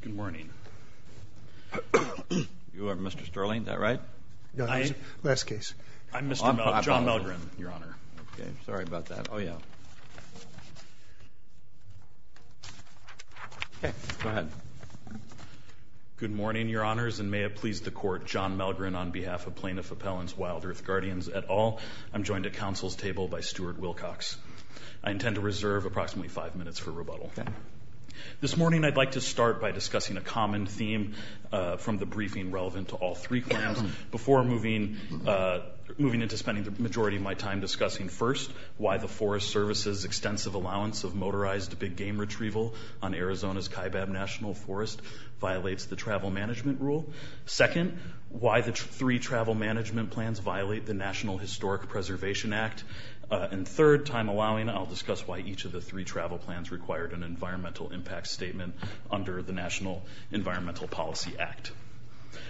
Good morning. You are Mr. Sterling, is that right? No, that's the last case. I'm Mr. John Malgren, Your Honor. Okay, sorry about that. Oh, yeah. Okay, go ahead. Good morning, Your Honors, and may it please the Court, John Malgren on behalf of Plaintiff Appellants WildEarth Guardians et al. I'm joined at counsel's table by Stuart Wilcox. I intend to reserve approximately five minutes for rebuttal. Okay. This morning I'd like to start by discussing a common theme from the briefing relevant to all three claims before moving into spending the majority of my time discussing, first, why the Forest Service's extensive allowance of motorized big game retrieval on Arizona's Kaibab National Forest violates the travel management rule, second, why the three travel management plans violate the National Historic Preservation Act, and third, time allowing, I'll discuss why each of the three travel plans required an environmental impact statement under the National Environmental Policy Act.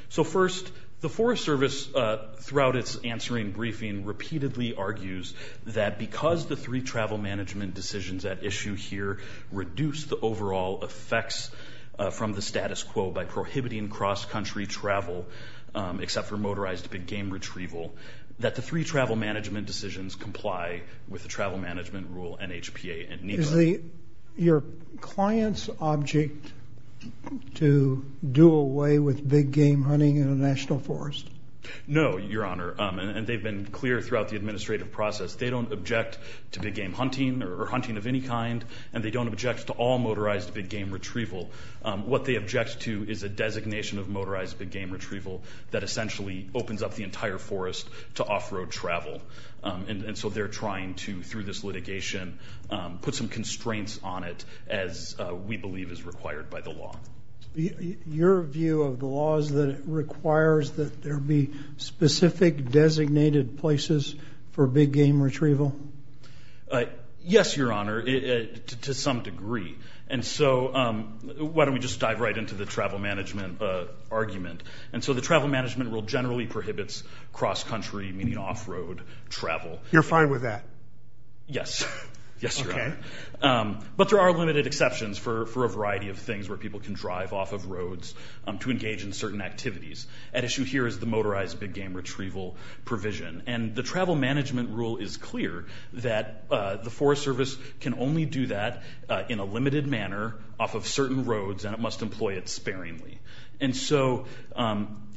So first, the Forest Service, throughout its answering briefing, repeatedly argues that because the three travel management decisions at issue here reduce the overall effects from the status quo by prohibiting cross-country travel, except for motorized big game retrieval, that the three travel management decisions comply with the travel management rule NHPA and NEPA. Is your client's object to do away with big game hunting in a national forest? No, Your Honor, and they've been clear throughout the administrative process. They don't object to big game hunting or hunting of any kind, and they don't object to all motorized big game retrieval. What they object to is a designation of motorized big game retrieval that essentially opens up the entire forest to off-road travel. And so they're trying to, through this litigation, put some constraints on it as we believe is required by the law. Your view of the law is that it requires that there be specific designated places for big game retrieval? Yes, Your Honor, to some degree. And so why don't we just dive right into the travel management argument. And so the travel management rule generally prohibits cross-country, meaning off-road travel. You're fine with that? Yes, Your Honor. But there are limited exceptions for a variety of things where people can drive off of roads to engage in certain activities. At issue here is the motorized big game retrieval provision. And the travel management rule is clear that the Forest Service can only do that in a limited manner off of certain roads, and it must employ it sparingly. And so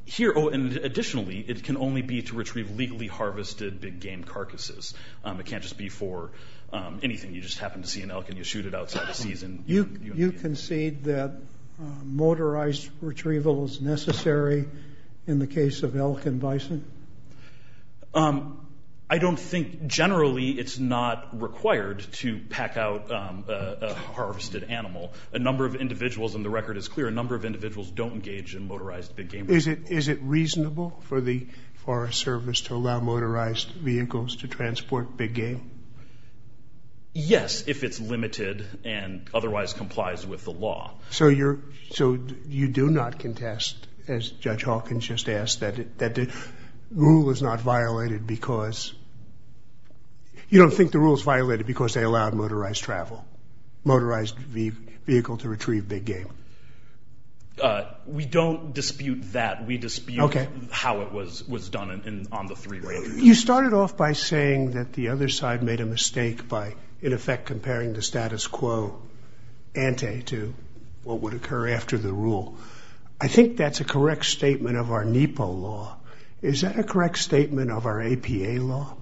here, additionally, it can only be to retrieve legally harvested big game carcasses. It can't just be for anything. You just happen to see an elk and you shoot it outside the season. You concede that motorized retrieval is necessary in the case of elk and bison? I don't think generally it's not required to pack out a harvested animal. A number of individuals, and the record is clear, a number of individuals don't engage in motorized big game retrieval. Is it reasonable for the Forest Service to allow motorized vehicles to transport big game? Yes, if it's limited and otherwise complies with the law. So you do not contest, as Judge Hawkins just asked, that the rule is not violated because? You don't think the rule is violated because they allowed motorized travel, motorized vehicle to retrieve big game? We don't dispute that. We dispute how it was done on the three roads. You started off by saying that the other side made a mistake by, in effect, comparing the status quo ante to what would occur after the rule. I think that's a correct statement of our NEPA law. Is that a correct statement of our APA law?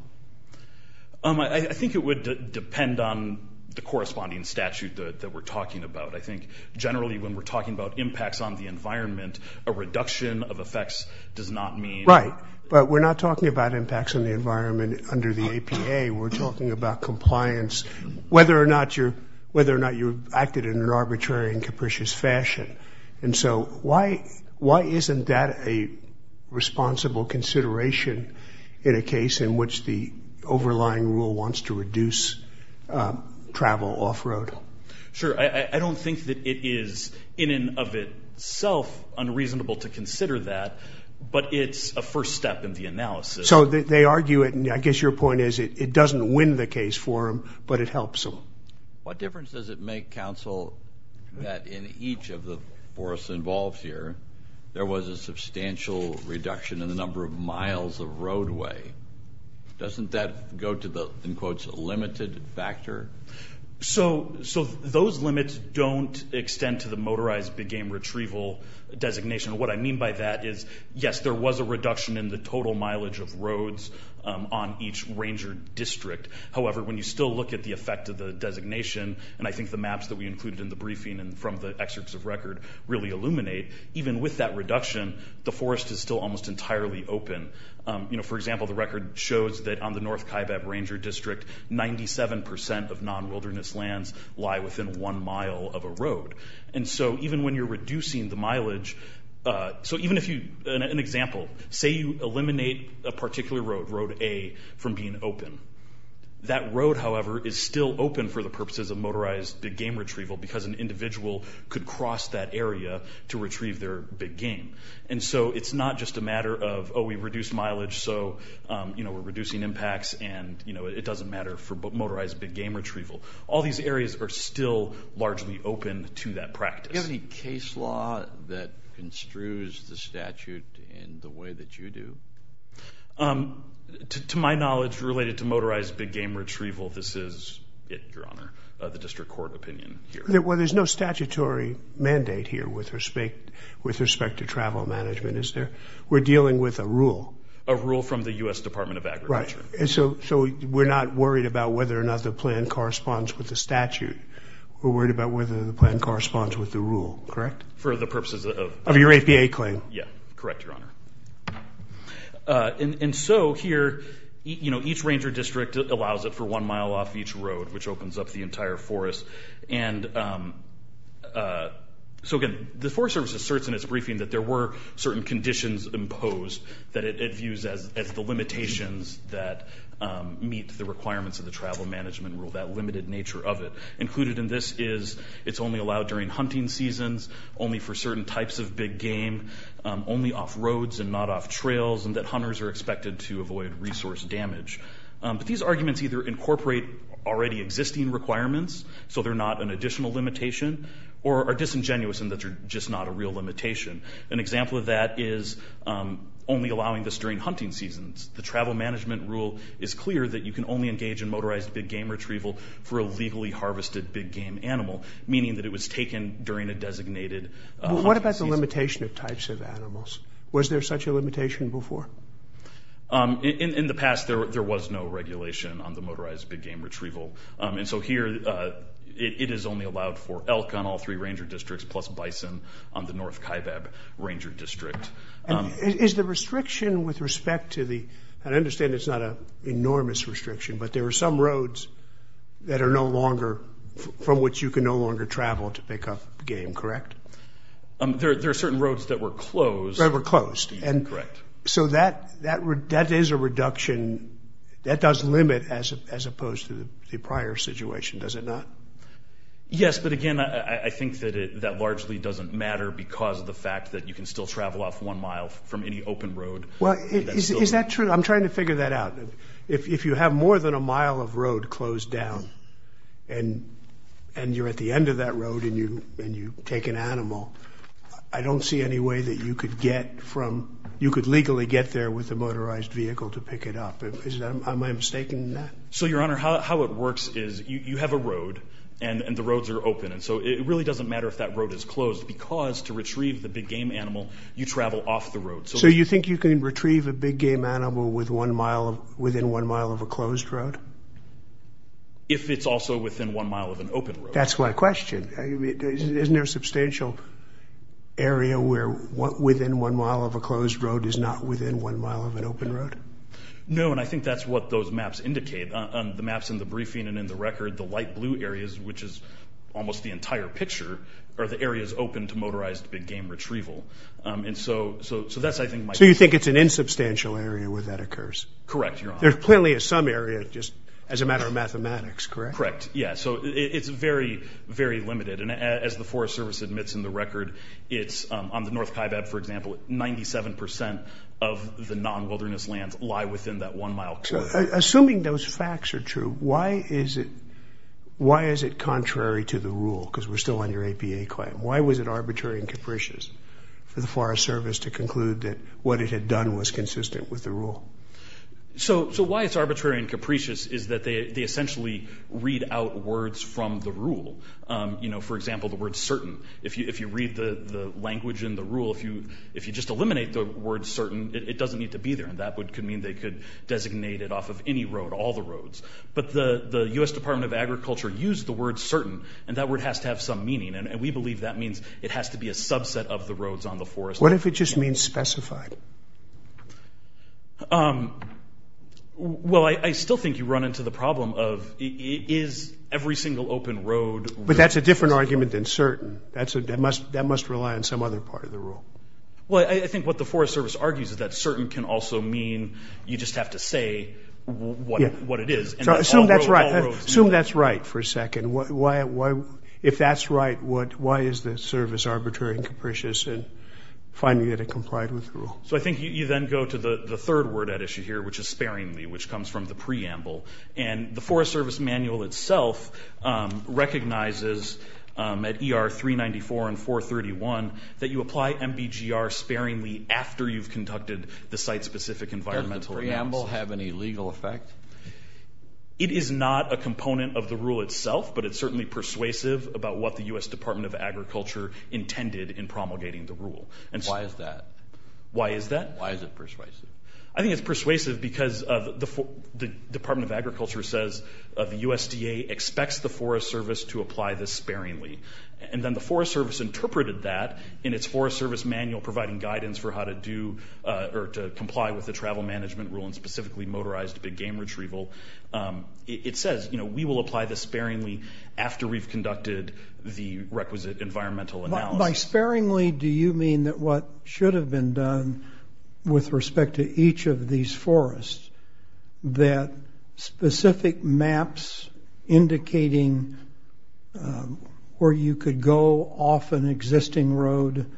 I think it would depend on the corresponding statute that we're talking about. I think generally when we're talking about impacts on the environment, a reduction of effects does not mean? Right, but we're not talking about impacts on the environment under the APA. We're talking about compliance, whether or not you acted in an arbitrary and capricious fashion. And so why isn't that a responsible consideration in a case in which the overlying rule wants to reduce travel off-road? Sure. I don't think that it is in and of itself unreasonable to consider that, but it's a first step in the analysis. So they argue it, and I guess your point is it doesn't win the case for them, but it helps them. What difference does it make, counsel, that in each of the forests involved here, there was a substantial reduction in the number of miles of roadway? Doesn't that go to the, in quotes, limited factor? So those limits don't extend to the motorized big game retrieval designation. What I mean by that is, yes, there was a reduction in the total mileage of roads on each ranger district. However, when you still look at the effect of the designation, and I think the maps that we included in the briefing and from the excerpts of record really illuminate, even with that reduction, the forest is still almost entirely open. You know, for example, the record shows that on the North Kaibab Ranger District, 97% of non-wilderness lands lie within one mile of a road. And so even when you're reducing the mileage, so even if you, an example, say you eliminate a particular road, Road A, from being open, that road, however, is still open for the purposes of motorized big game retrieval because an individual could cross that area to retrieve their big game. And so it's not just a matter of, oh, we've reduced mileage, so we're reducing impacts, and it doesn't matter for motorized big game retrieval. All these areas are still largely open to that practice. Do you have any case law that construes the statute in the way that you do? To my knowledge, related to motorized big game retrieval, this is it, Your Honor, the district court opinion here. Well, there's no statutory mandate here with respect to travel management, is there? We're dealing with a rule. A rule from the U.S. Department of Agriculture. Right. And so we're not worried about whether or not the plan corresponds with the statute. We're worried about whether the plan corresponds with the rule, correct? For the purposes of? Of your APA claim. Yeah, correct, Your Honor. And so here, you know, each ranger district allows it for one mile off each road, which opens up the entire forest. And so, again, the Forest Service asserts in its briefing that there were certain conditions imposed that it views as the limitations that meet the requirements of the travel management rule, that limited nature of it. Included in this is it's only allowed during hunting seasons, only for certain types of big game, only off roads and not off trails, and that hunters are expected to avoid resource damage. But these arguments either incorporate already existing requirements, so they're not an additional limitation, or are disingenuous in that they're just not a real limitation. An example of that is only allowing this during hunting seasons. The travel management rule is clear that you can only engage in motorized big game retrieval for a legally harvested big game animal, meaning that it was taken during a designated hunting season. What about the limitation of types of animals? Was there such a limitation before? In the past, there was no regulation on the motorized big game retrieval. And so here, it is only allowed for elk on all three ranger districts, plus bison on the North Kaibab ranger district. Is the restriction with respect to the – and I understand it's not an enormous restriction, but there are some roads that are no longer – from which you can no longer travel to pick up game, correct? There are certain roads that were closed. That were closed. Correct. So that is a reduction. That does limit as opposed to the prior situation, does it not? Yes, but again, I think that that largely doesn't matter because of the fact that you can still travel off one mile from any open road. Well, is that true? I'm trying to figure that out. If you have more than a mile of road closed down and you're at the end of that road and you take an animal, I don't see any way that you could get from – you could legally get there with a motorized vehicle to pick it up. Am I mistaken in that? So, Your Honor, how it works is you have a road and the roads are open. And so it really doesn't matter if that road is closed because to retrieve the big game animal, you travel off the road. So you think you can retrieve a big game animal within one mile of a closed road? If it's also within one mile of an open road. That's my question. Isn't there a substantial area where within one mile of a closed road is not within one mile of an open road? No, and I think that's what those maps indicate. On the maps in the briefing and in the record, the light blue areas, which is almost the entire picture, are the areas open to motorized big game retrieval. And so that's, I think, my question. So you think it's an insubstantial area where that occurs? Correct, Your Honor. There's plenty of some area just as a matter of mathematics, correct? Correct, yeah. So it's very, very limited. And as the Forest Service admits in the record, it's – on the North Kaibab, for example, 97 percent of the non-wilderness lands lie within that one-mile closed road. Assuming those facts are true, why is it contrary to the rule? Because we're still under APA claim. Why was it arbitrary and capricious for the Forest Service to conclude that what it had done was consistent with the rule? So why it's arbitrary and capricious is that they essentially read out words from the rule. You know, for example, the word certain. If you read the language in the rule, if you just eliminate the word certain, it doesn't need to be there. And that could mean they could designate it off of any road, all the roads. But the U.S. Department of Agriculture used the word certain, and that word has to have some meaning. And we believe that means it has to be a subset of the roads on the forest. What if it just means specified? Well, I still think you run into the problem of is every single open road – But that's a different argument than certain. That must rely on some other part of the rule. Well, I think what the Forest Service argues is that certain can also mean you just have to say what it is. Assume that's right. Assume that's right for a second. If that's right, why is the service arbitrary and capricious in finding that it complied with the rule? So I think you then go to the third word at issue here, which is sparingly, which comes from the preamble. And the Forest Service manual itself recognizes at ER 394 and 431 that you apply MBGR sparingly after you've conducted the site-specific environmental analysis. Does the preamble have any legal effect? It is not a component of the rule itself, but it's certainly persuasive about what the U.S. Department of Agriculture intended in promulgating the rule. Why is that? Why is that? Why is it persuasive? I think it's persuasive because the Department of Agriculture says the USDA expects the Forest Service to apply this sparingly. And then the Forest Service interpreted that in its Forest Service manual providing guidance for how to do or to comply with the travel management rule, and specifically motorized big game retrieval. It says, you know, we will apply this sparingly after we've conducted the requisite environmental analysis. By sparingly, do you mean that what should have been done with respect to each of these forests, that specific maps indicating where you could go off an existing road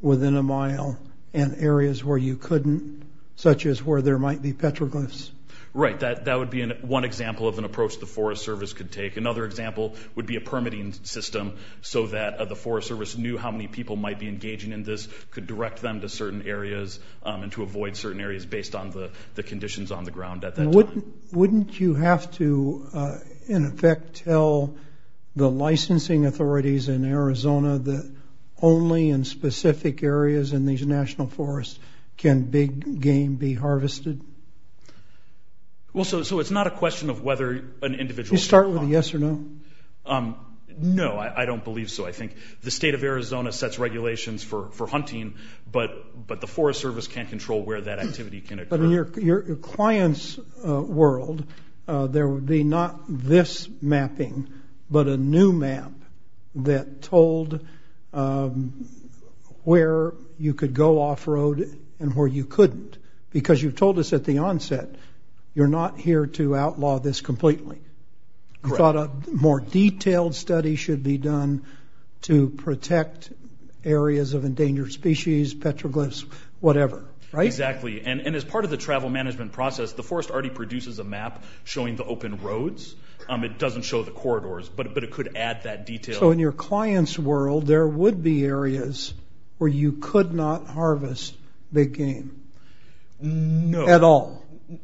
within a mile and areas where you couldn't, such as where there might be petroglyphs? Right. That would be one example of an approach the Forest Service could take. Another example would be a permitting system so that the Forest Service knew how many people might be engaging in this, could direct them to certain areas, and to avoid certain areas based on the conditions on the ground at that time. Wouldn't you have to, in effect, tell the licensing authorities in Arizona that only in specific areas in these national forests can big game be harvested? Well, so it's not a question of whether an individual... Do you start with a yes or no? No, I don't believe so. I think the state of Arizona sets regulations for hunting, but the Forest Service can't control where that activity can occur. But in your client's world, there would be not this mapping, but a new map that told where you could go off-road and where you couldn't, because you told us at the onset you're not here to outlaw this completely. You thought a more detailed study should be done to protect areas of endangered species, petroglyphs, whatever, right? Exactly. And as part of the travel management process, the forest already produces a map showing the open roads. It doesn't show the corridors, but it could add that detail. So in your client's world, there would be areas where you could not harvest big game at all?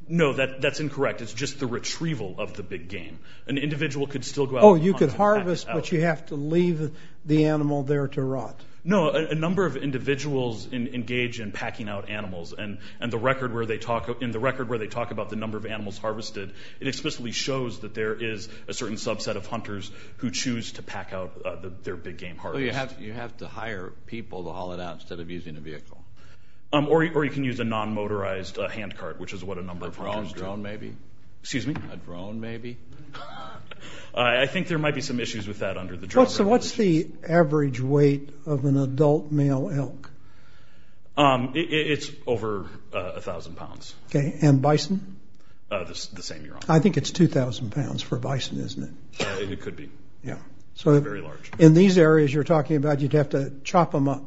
No, that's incorrect. It's just the retrieval of the big game. An individual could still go out and hunt and pack it out. Oh, you could harvest, but you have to leave the animal there to rot. No, a number of individuals engage in packing out animals, and in the record where they talk about the number of animals harvested, it explicitly shows that there is a certain subset of hunters who choose to pack out their big game harvest. So you have to hire people to haul it out instead of using a vehicle? Or you can use a non-motorized hand cart, which is what a number of hunters do. A drone, maybe? Excuse me? A drone, maybe? I think there might be some issues with that under the driver. So what's the average weight of an adult male elk? It's over 1,000 pounds. And bison? The same year on. I think it's 2,000 pounds for bison, isn't it? It could be. Yeah. It's very large. In these areas you're talking about, you'd have to chop them up?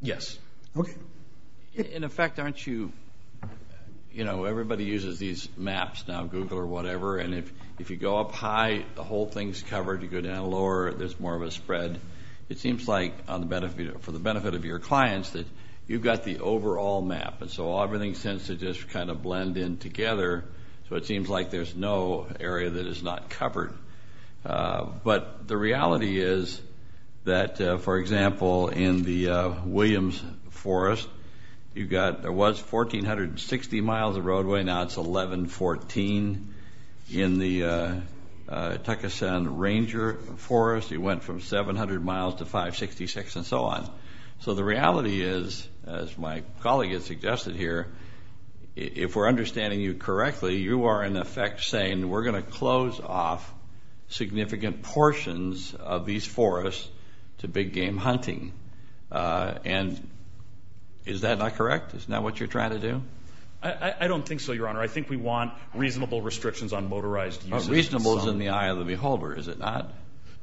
Yes. Okay. In effect, aren't you, you know, everybody uses these maps now, Google or whatever, and if you go up high, the whole thing's covered. You go down lower, there's more of a spread. It seems like for the benefit of your clients that you've got the overall map, and so everything seems to just kind of blend in together, so it seems like there's no area that is not covered. But the reality is that, for example, in the Williams Forest, you've got, there was 1,460 miles of roadway, now it's 1,114. In the Tuckeson Ranger Forest, you went from 700 miles to 566 and so on. So the reality is, as my colleague has suggested here, if we're understanding you correctly, you are in effect saying we're going to close off significant portions of these forests to big game hunting. And is that not correct? Is that not what you're trying to do? I don't think so, Your Honor. I think we want reasonable restrictions on motorized uses. But reasonable is in the eye of the beholder, is it not?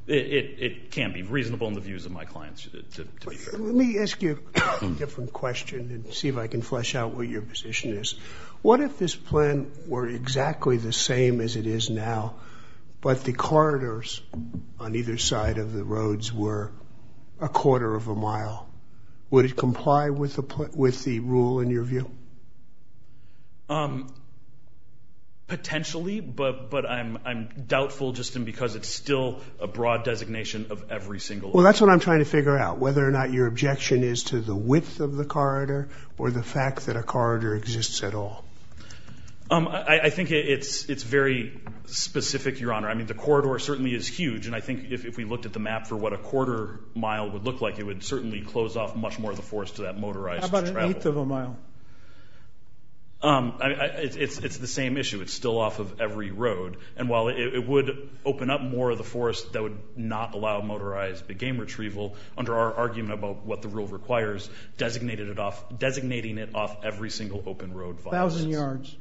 It can't be reasonable in the views of my clients. Let me ask you a different question and see if I can flesh out what your position is. What if this plan were exactly the same as it is now, but the corridors on either side of the roads were a quarter of a mile? Would it comply with the rule in your view? Potentially, but I'm doubtful just in because it's still a broad designation of every single area. Well, that's what I'm trying to figure out, whether or not your objection is to the width of the corridor or the fact that a corridor exists at all. I think it's very specific, Your Honor. I mean, the corridor certainly is huge, and I think if we looked at the map for what a quarter mile would look like, it would certainly close off much more of the forest to that motorized travel. A eighth of a mile. It's the same issue. It's still off of every road. And while it would open up more of the forest that would not allow motorized game retrieval, under our argument about what the rule requires, designating it off every single open road. A thousand yards.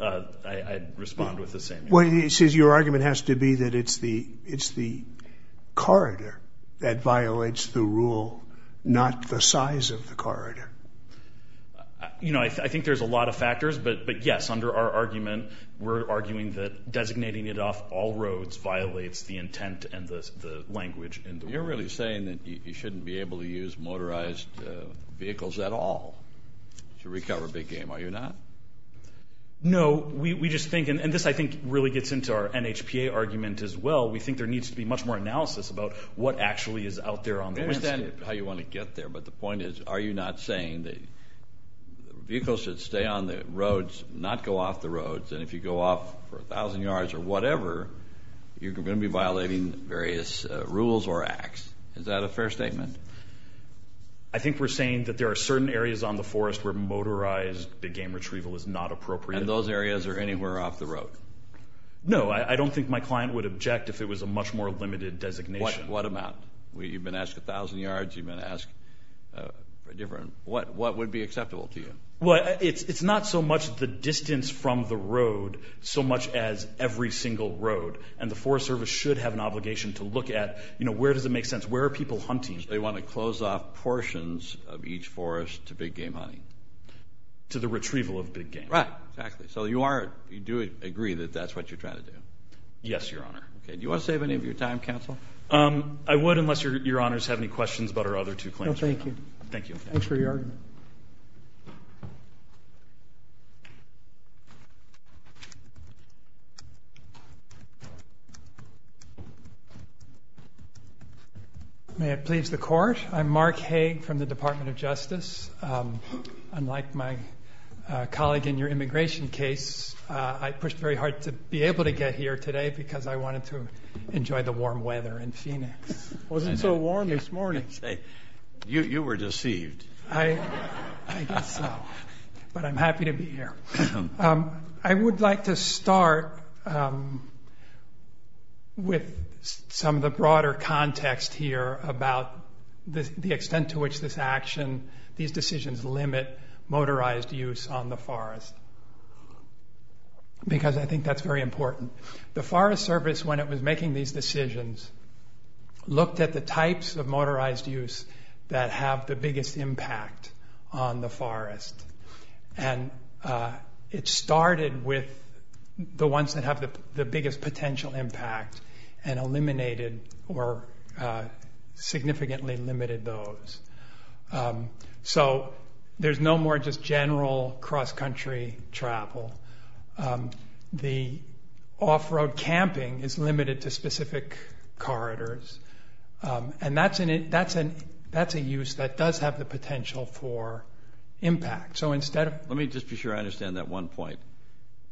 I'd respond with the same. Well, it says your argument has to be that it's the corridor that violates the rule, not the size of the corridor. You know, I think there's a lot of factors, but yes, under our argument, we're arguing that designating it off all roads violates the intent and the language. You're really saying that you shouldn't be able to use motorized vehicles at all to recover big game, are you not? No. We just think, and this I think really gets into our NHPA argument as well, we think there needs to be much more analysis about what actually is out there on the landscape. I understand how you want to get there, but the point is, are you not saying that vehicles should stay on the roads, not go off the roads, and if you go off for a thousand yards or whatever, you're going to be violating various rules or acts. Is that a fair statement? I think we're saying that there are certain areas on the forest where motorized big game retrieval is not appropriate. And those areas are anywhere off the road? No. I don't think my client would object if it was a much more limited designation. What amount? You've been asked a thousand yards. You've been asked different. What would be acceptable to you? Well, it's not so much the distance from the road, so much as every single road, and the Forest Service should have an obligation to look at, you know, where does it make sense? Where are people hunting? So they want to close off portions of each forest to big game hunting? To the retrieval of big game. Right, exactly. So you do agree that that's what you're trying to do? Yes, Your Honor. Do you want to save any of your time, counsel? I would, unless Your Honors have any questions about our other two claims. No, thank you. Thank you. Thanks for your argument. May it please the Court. I'm Mark Haig from the Department of Justice. Unlike my colleague in your immigration case, I pushed very hard to be able to get here today because I wanted to enjoy the warm weather in Phoenix. It wasn't so warm this morning. You were deceived. I guess so. But I'm happy to be here. I would like to start with some of the broader context here about the extent to which this action, these decisions limit motorized use on the forest because I think that's very important. The Forest Service, when it was making these decisions, looked at the types of motorized use that have the biggest impact on the forest. And it started with the ones that have the biggest potential impact and eliminated or significantly limited those. So there's no more just general cross-country travel. The off-road camping is limited to specific corridors. And that's a use that does have the potential for impact. Let me just be sure I understand that one point.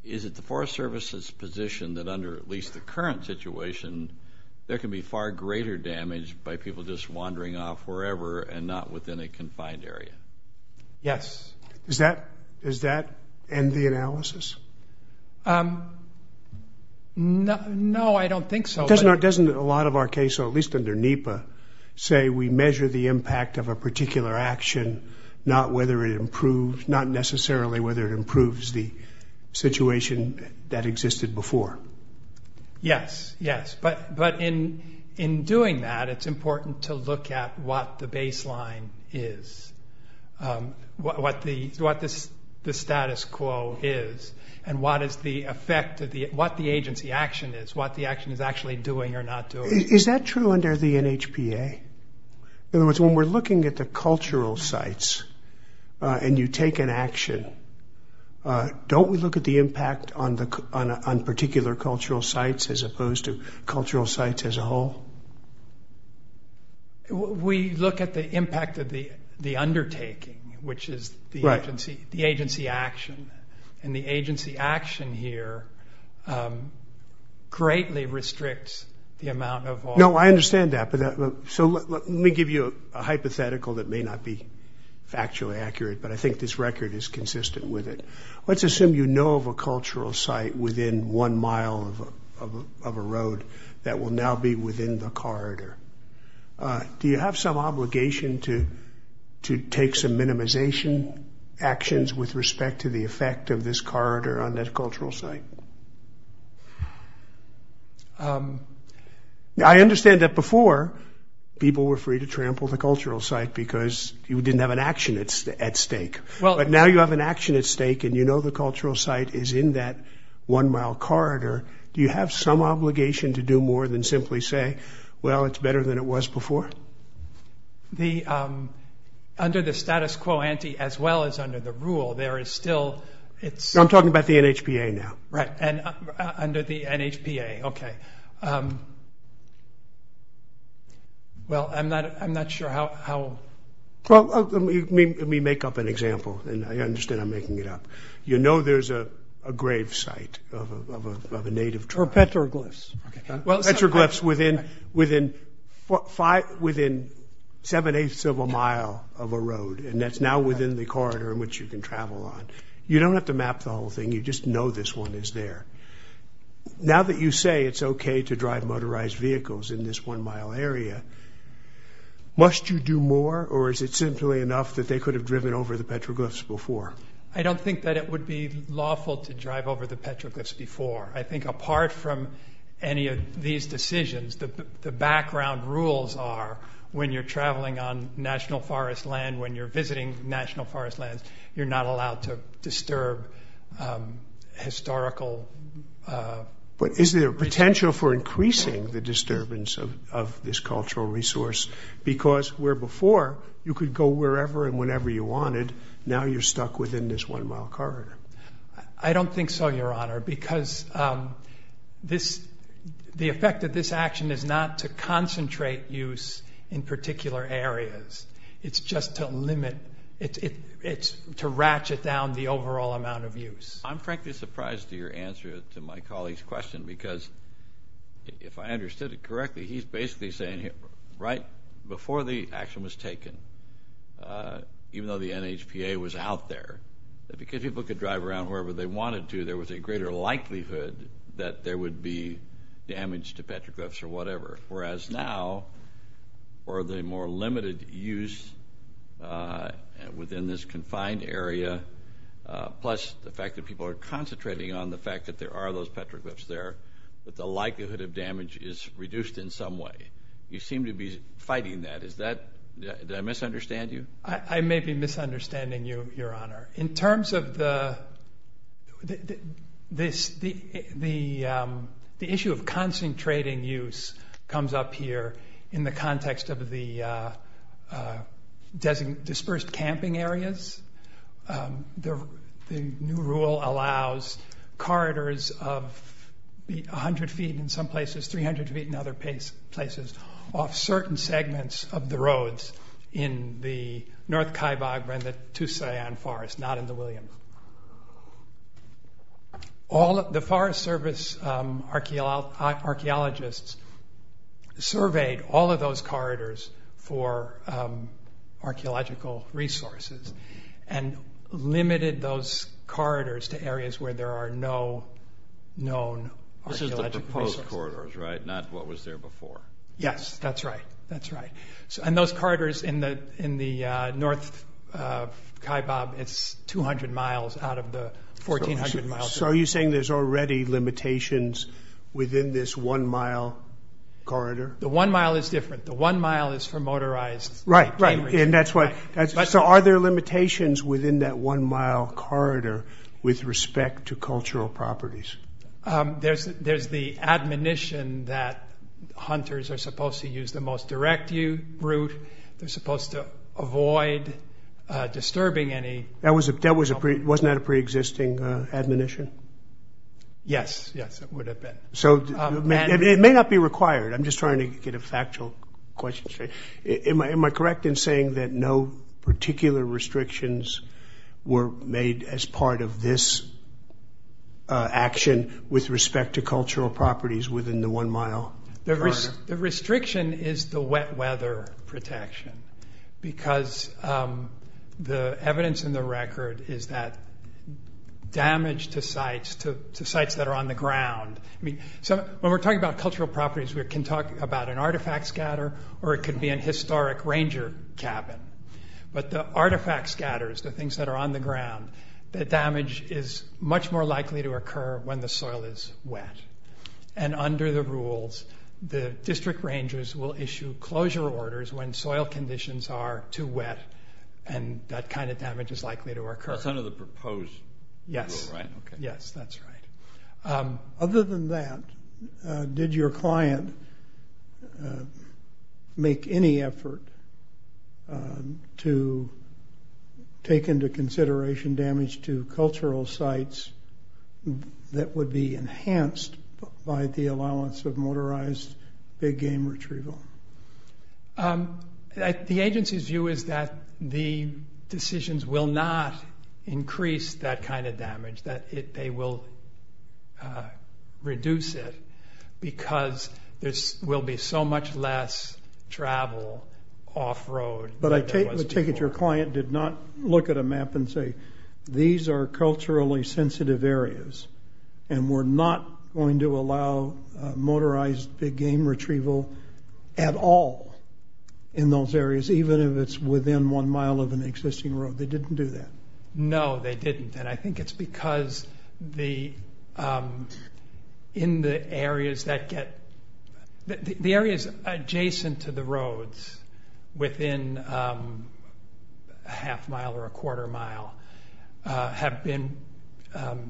Is it the Forest Service's position that under at least the current situation, there can be far greater damage by people just wandering off wherever and not within a confined area? Yes. Does that end the analysis? No, I don't think so. Doesn't a lot of our case, at least under NEPA, say we measure the impact of a particular action, not necessarily whether it improves the situation that existed before? Yes, yes. But in doing that, it's important to look at what the baseline is, what the status quo is, and what the agency action is, what the action is actually doing or not doing. Is that true under the NHPA? In other words, when we're looking at the cultural sites and you take an action, don't we look at the impact on particular cultural sites as opposed to cultural sites as a whole? We look at the impact of the undertaking, which is the agency action, and the agency action here greatly restricts the amount of all. No, I understand that. So let me give you a hypothetical that may not be factually accurate, but I think this record is consistent with it. Let's assume you know of a cultural site within one mile of a road that will now be within the corridor. Do you have some obligation to take some minimization actions with respect to the effect of this corridor on that cultural site? I understand that before people were free to trample the cultural site because you didn't have an action at stake. But now you have an action at stake and you know the cultural site is in that one-mile corridor. Do you have some obligation to do more than simply say, well, it's better than it was before? Under the status quo ante, as well as under the rule, there is still its... I'm talking about the NHPA now. Right, under the NHPA, okay. Well, I'm not sure how... Let me make up an example, and I understand I'm making it up. You know there's a grave site of a native tribe. Or petroglyphs. Petroglyphs within seven-eighths of a mile of a road, and that's now within the corridor in which you can travel on. You don't have to map the whole thing. You just know this one is there. Now that you say it's okay to drive motorized vehicles in this one-mile area, must you do more, or is it simply enough that they could have driven over the petroglyphs before? I don't think that it would be lawful to drive over the petroglyphs before. I think apart from any of these decisions, the background rules are when you're traveling on national forest land, when you're visiting national forest lands, you're not allowed to disturb historical... But is there potential for increasing the disturbance of this cultural resource? Because where before you could go wherever and whenever you wanted, now you're stuck within this one-mile corridor. I don't think so, Your Honor, because the effect of this action is not to concentrate use in particular areas. It's just to ratchet down the overall amount of use. I'm frankly surprised at your answer to my colleague's question because if I understood it correctly, he's basically saying right before the action was taken, even though the NHPA was out there, that because people could drive around wherever they wanted to, there was a greater likelihood that there would be damage to petroglyphs or whatever, whereas now for the more limited use within this confined area, plus the fact that people are concentrating on the fact that there are those petroglyphs there, that the likelihood of damage is reduced in some way. You seem to be fighting that. Did I misunderstand you? I may be misunderstanding you, Your Honor. In terms of the issue of concentrating use comes up here in the context of the dispersed camping areas. The new rule allows corridors of 100 feet in some places, off certain segments of the roads in the North Kaibab and the Tusayan Forest, not in the Williams. The Forest Service archaeologists surveyed all of those corridors for archaeological resources and limited those corridors to areas where there are no known archaeological resources. Not what was there before. Yes, that's right. And those corridors in the North Kaibab, it's 200 miles out of the 1,400 miles. So are you saying there's already limitations within this one-mile corridor? The one mile is different. The one mile is for motorized campers. Right. So are there limitations within that one-mile corridor with respect to cultural properties? There's the admonition that hunters are supposed to use the most direct route. They're supposed to avoid disturbing any— Wasn't that a preexisting admonition? Yes, yes, it would have been. It may not be required. I'm just trying to get a factual question straight. Am I correct in saying that no particular restrictions were made as part of this action with respect to cultural properties within the one-mile corridor? The restriction is the wet weather protection because the evidence in the record is that damage to sites, to sites that are on the ground. When we're talking about cultural properties, we can talk about an artifact scatter or it could be an historic ranger cabin. But the artifact scatters, the things that are on the ground, the damage is much more likely to occur when the soil is wet. And under the rules, the district rangers will issue closure orders when soil conditions are too wet and that kind of damage is likely to occur. That's under the proposed rule, right? Yes, yes, that's right. Other than that, did your client make any effort to take into consideration damage to cultural sites that would be enhanced by the allowance of motorized big game retrieval? The agency's view is that the decisions will not increase that kind of damage, that they will reduce it because there will be so much less travel off-road than there was before. But I take it your client did not look at a map and say, these are culturally sensitive areas and we're not going to allow motorized big game retrieval at all in those areas, even if it's within one mile of an existing road. They didn't do that. No, they didn't. I think it's because the areas adjacent to the roads within a half mile or a quarter mile have been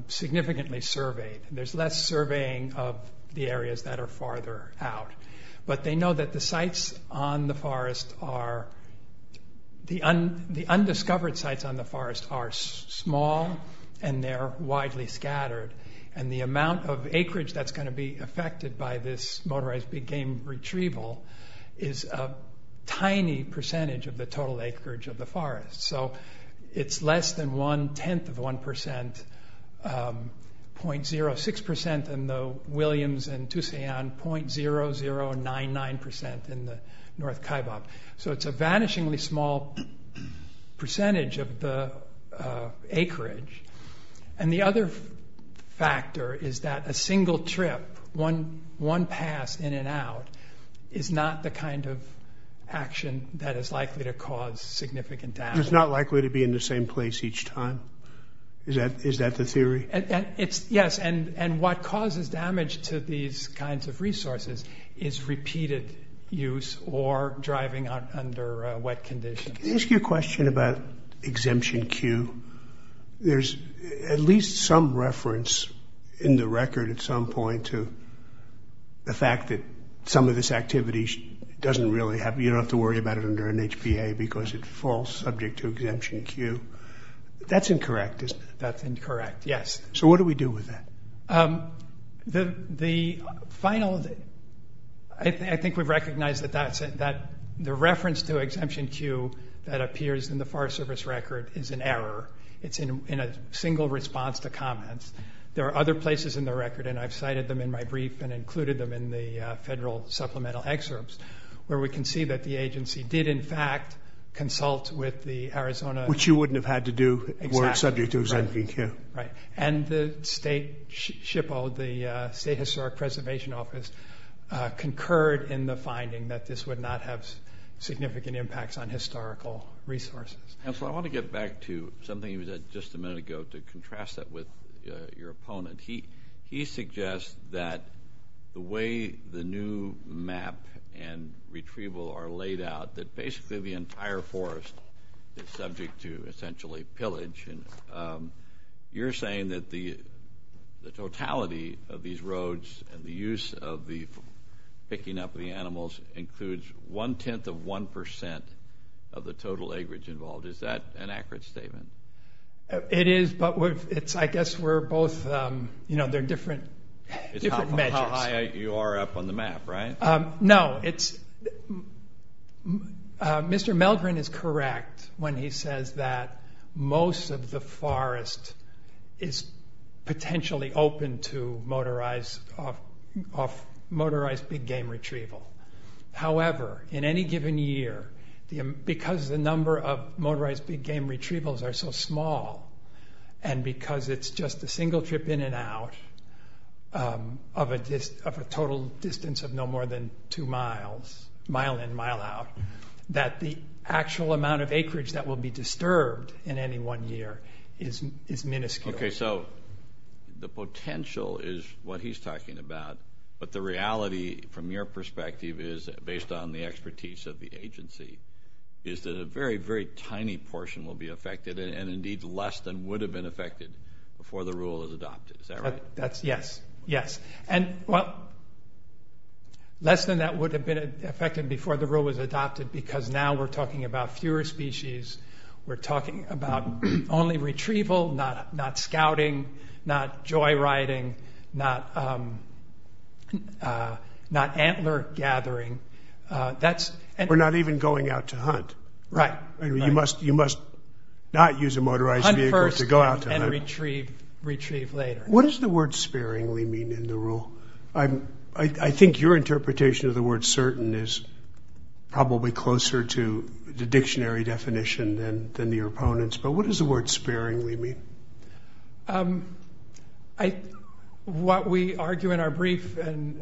significantly surveyed. There's less surveying of the areas that are farther out. But they know that the undiscovered sites on the forest are small and they're widely scattered. And the amount of acreage that's going to be affected by this motorized big game retrieval is a tiny percentage of the total acreage of the forest. So it's less than one-tenth of 1%, 0.06% in the Williams and Toussaint, 0.0099% in the North Kaibab. So it's a vanishingly small percentage of the acreage. And the other factor is that a single trip, one pass in and out, is not the kind of action that is likely to cause significant damage. It's not likely to be in the same place each time? Is that the theory? Yes, and what causes damage to these kinds of resources is repeated use or driving under wet conditions. Can I ask you a question about Exemption Q? There's at least some reference in the record at some point to the fact that some of this activity doesn't really happen. You don't have to worry about it under an HPA because it falls subject to Exemption Q. That's incorrect, isn't it? That's incorrect, yes. So what do we do with that? The final thing, I think we've recognized that the reference to Exemption Q that appears in the Forest Service record is an error. It's in a single response to comments. There are other places in the record, and I've cited them in my brief and included them in the federal supplemental excerpts, where we can see that the agency did, in fact, consult with the Arizona... Which you wouldn't have had to do were it subject to Exemption Q. Right, and the state SHPO, the State Historic Preservation Office, concurred in the finding that this would not have significant impacts on historical resources. Counselor, I want to get back to something you said just a minute ago to contrast that with your opponent. He suggests that the way the new map and retrieval are laid out, that basically the entire forest is subject to, essentially, pillage. You're saying that the totality of these roads and the use of the picking up of the animals includes one-tenth of one percent of the total acreage involved. Is that an accurate statement? It is, but I guess we're both... You know, they're different measures. It's how high you are up on the map, right? No, it's... Mr. Meldrin is correct when he says that most of the forest is potentially open to motorized big-game retrieval. However, in any given year, because the number of motorized big-game retrievals are so small and because it's just a single trip in and out of a total distance of no more than two miles, mile in, mile out, that the actual amount of acreage that will be disturbed in any one year is minuscule. Okay, so the potential is what he's talking about, but the reality, from your perspective, is based on the expertise of the agency, is that a very, very tiny portion will be affected and indeed less than would have been affected before the rule was adopted. Is that right? Yes, yes. And, well, less than that would have been affected before the rule was adopted because now we're talking about fewer species. We're talking about only retrieval, not scouting, not joyriding, not antler gathering. We're not even going out to hunt. Right. You must not use a motorized vehicle to go out to hunt. Hunt first and retrieve later. What does the word sparingly mean in the rule? I think your interpretation of the word certain is probably closer to the dictionary definition than your opponent's, but what does the word sparingly mean? What we argue in our brief is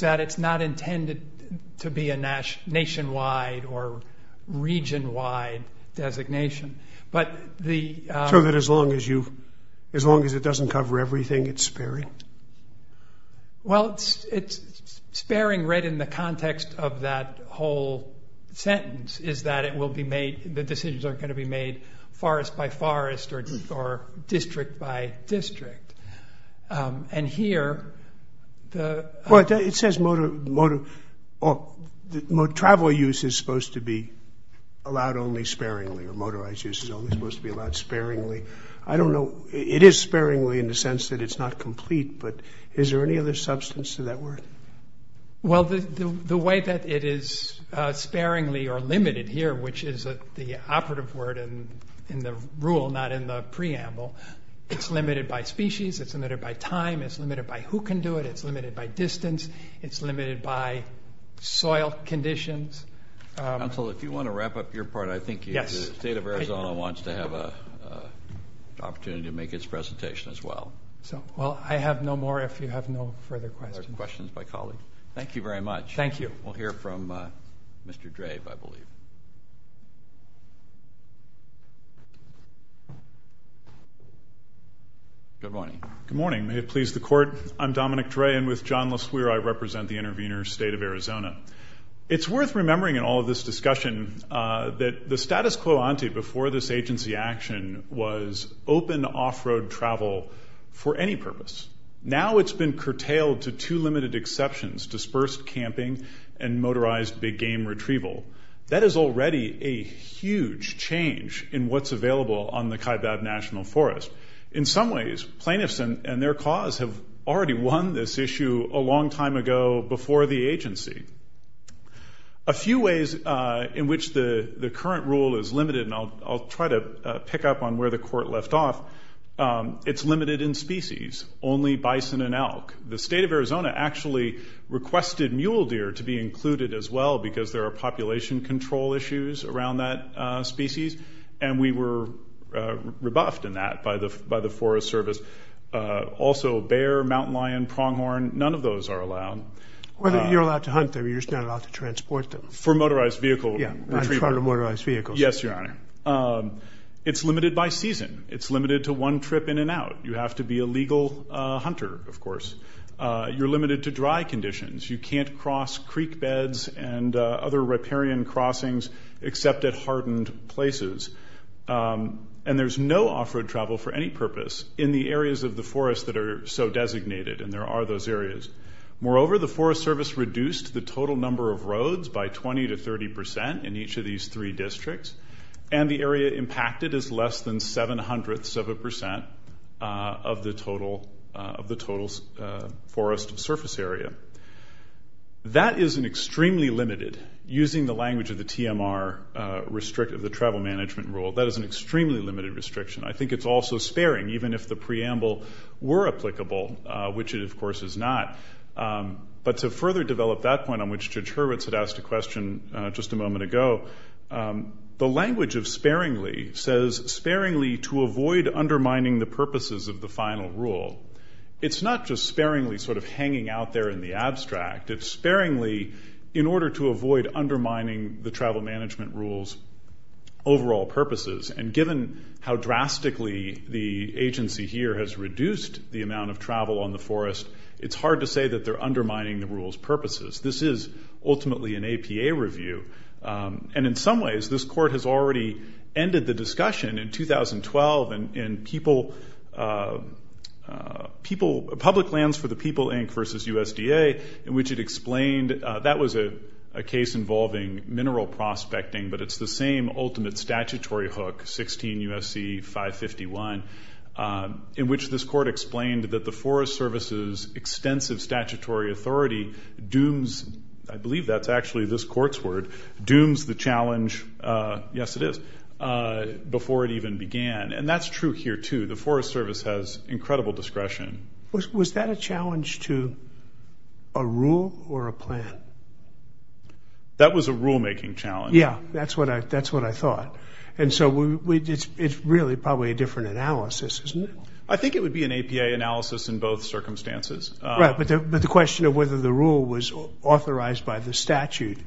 that it's not intended to be a nationwide or regionwide designation. So that as long as it doesn't cover everything, it's sparing? Well, it's sparing right in the context of that whole sentence is that the decisions aren't going to be made forest by forest or district by district. And here the... Well, it says travel use is supposed to be allowed only sparingly or motorized use is only supposed to be allowed sparingly. I don't know. It is sparingly in the sense that it's not complete, but is there any other substance to that word? Well, the way that it is sparingly or limited here, which is the operative word in the rule, not in the preamble, it's limited by species, it's limited by time, it's limited by who can do it, it's limited by distance, it's limited by soil conditions. Counsel, if you want to wrap up your part, I think the state of Arizona wants to have an opportunity to make its presentation as well. Well, I have no more if you have no further questions. No more questions by colleagues? Thank you very much. Thank you. We'll hear from Mr. Dre, I believe. Good morning. Good morning. May it please the Court, I'm Dominic Dre, and with John LeSueur I represent the intervener, State of Arizona. It's worth remembering in all of this discussion that the status quo ante before this agency action was open off-road travel for any purpose. Now it's been curtailed to two limited exceptions, dispersed camping and motorized big game retrieval. That is already a huge change in what's available on the Kaibab National Forest. In some ways, plaintiffs and their cause have already won this issue a long time ago before the agency. A few ways in which the current rule is limited, and I'll try to pick up on where the Court left off, it's limited in species, only bison and elk. The State of Arizona actually requested mule deer to be included as well because there are population control issues around that species, and we were rebuffed in that by the Forest Service. Also bear, mountain lion, pronghorn, none of those are allowed. You're allowed to hunt them. You're just not allowed to transport them. For motorized vehicle retrieval. Yeah, for motorized vehicles. Yes, Your Honor. It's limited by season. It's limited to one trip in and out. You have to be a legal hunter, of course. You're limited to dry conditions. You can't cross creek beds and other riparian crossings except at hardened places. And there's no off-road travel for any purpose in the areas of the forest that are so designated, and there are those areas. Moreover, the Forest Service reduced the total number of roads by 20 to 30% in the hundreds of a percent of the total forest surface area. That is an extremely limited, using the language of the TMR, the travel management rule, that is an extremely limited restriction. I think it's also sparing, even if the preamble were applicable, which it, of course, is not. But to further develop that point on which Judge Hurwitz had asked a question just a moment ago, the language of sparingly says, sparingly to avoid undermining the purposes of the final rule. It's not just sparingly sort of hanging out there in the abstract. It's sparingly in order to avoid undermining the travel management rule's overall purposes. And given how drastically the agency here has reduced the amount of travel on the forest, it's hard to say that they're undermining the rule's purposes. This is ultimately an APA review. And in some ways, this court has already ended the discussion in 2012 in Public Lands for the People, Inc. versus USDA, in which it explained that was a case involving mineral prospecting, but it's the same ultimate statutory hook, 16 U.S.C. 551, in which this court explained that the Forest Service's extensive statutory authority dooms, I believe that's actually this court's word, dooms the challenge, yes it is, before it even began. And that's true here, too. The Forest Service has incredible discretion. Was that a challenge to a rule or a plan? That was a rulemaking challenge. Yeah, that's what I thought. And so it's really probably a different analysis, isn't it? I think it would be an APA analysis in both circumstances. Right, but the question of whether the rule was authorized by the statute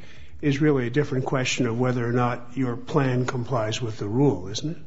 is really a different question of whether or not your plan complies with the rule, isn't it?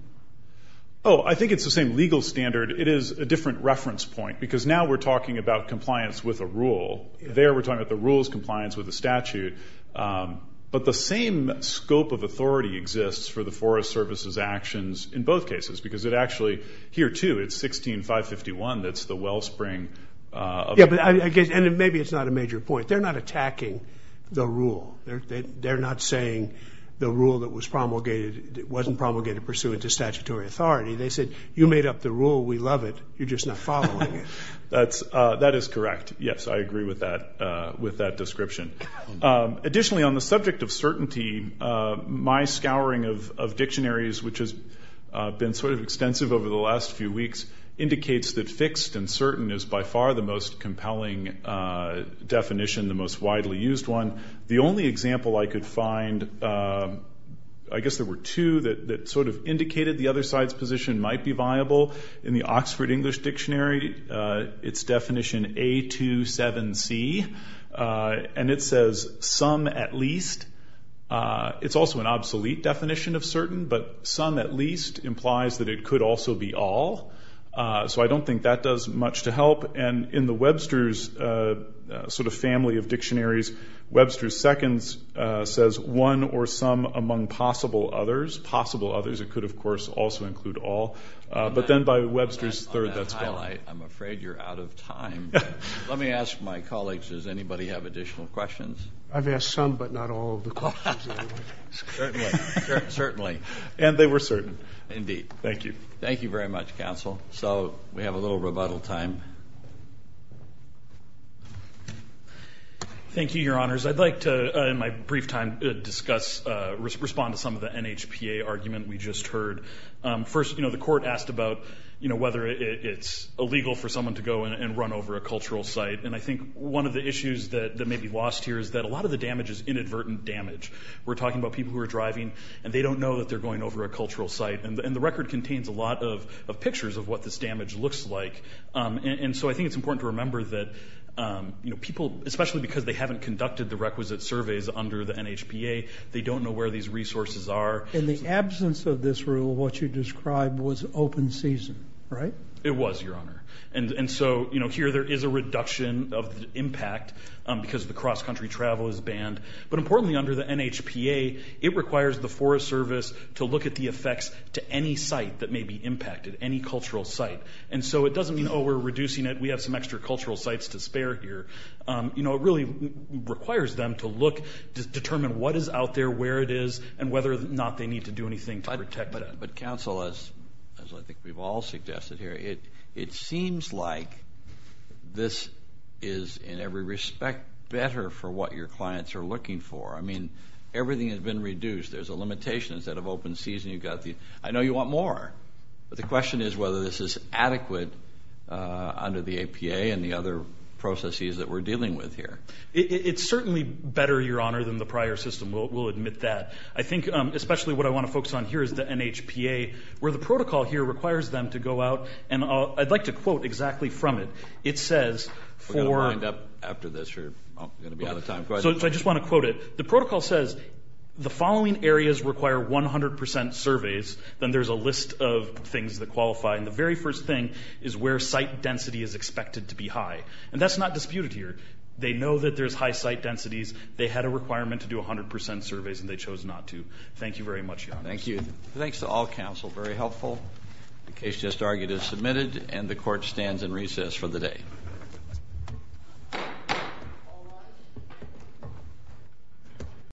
Oh, I think it's the same legal standard. It is a different reference point because now we're talking about compliance with a rule. There we're talking about the rule's compliance with the statute. But the same scope of authority exists for the Forest Service's actions in both cases because it actually, here, too, it's 16551 that's the wellspring. Yeah, and maybe it's not a major point. They're not attacking the rule. They're not saying the rule that was promulgated wasn't promulgated pursuant to statutory authority. They said you made up the rule, we love it, you're just not following it. That is correct, yes, I agree with that description. Additionally, on the subject of certainty, my scouring of dictionaries, which has been sort of extensive over the last few weeks, indicates that fixed and certain is by far the most compelling definition, the most widely used one. The only example I could find, I guess there were two, that sort of indicated the other side's position might be viable. In the Oxford English Dictionary, it's definition A27C, and it says some at least. It's also an obsolete definition of certain, but some at least implies that it could also be all. So I don't think that does much to help. And in the Webster's sort of family of dictionaries, Webster's second says one or some among possible others. Possible others, it could, of course, also include all. But then by Webster's third, that's gone. On that highlight, I'm afraid you're out of time. Let me ask my colleagues, does anybody have additional questions? I've asked some, but not all of the questions. Certainly. And they were certain. Indeed. Thank you. Thank you very much, counsel. So we have a little rebuttal time. Thank you, Your Honors. I'd like to, in my brief time, respond to some of the NHPA argument we just heard. First, the court asked about whether it's illegal for someone to go and run over a cultural site. And I think one of the issues that may be lost here is that a lot of the damage is inadvertent damage. We're talking about people who are driving, and they don't know that they're going over a cultural site. And the record contains a lot of pictures of what this damage looks like. And so I think it's important to remember that people, especially because they haven't conducted the requisite surveys under the NHPA, they don't know where these resources are. In the absence of this rule, what you described was open season, right? It was, Your Honor. And so, you know, here there is a reduction of the impact because the cross-country travel is banned. But importantly, under the NHPA, it requires the Forest Service to look at the effects to any site that may be impacted, any cultural site. And so it doesn't mean, oh, we're reducing it, we have some extra cultural sites to spare here. You know, it really requires them to look, to determine what is out there, where it is, and whether or not they need to do anything to protect it. But counsel, as I think we've all suggested here, it seems like this is, in every respect, better for what your clients are looking for. I mean, everything has been reduced. There's a limitation. Instead of open season, you've got the, I know you want more. But the question is whether this is adequate under the APA and the other processes that we're dealing with here. It's certainly better, Your Honor, than the prior system. We'll admit that. I think especially what I want to focus on here is the NHPA, where the protocol here requires them to go out. And I'd like to quote exactly from it. It says for. We're going to wind up after this. We're going to be out of time. Go ahead. So I just want to quote it. The protocol says the following areas require 100% surveys. Then there's a list of things that qualify. And the very first thing is where site density is expected to be high. And that's not disputed here. They know that there's high site densities. They had a requirement to do 100% surveys, and they chose not to. Thank you very much, Your Honor. Thank you. Thanks to all counsel. Very helpful. The case just argued is submitted. And the Court stands in recess for the day.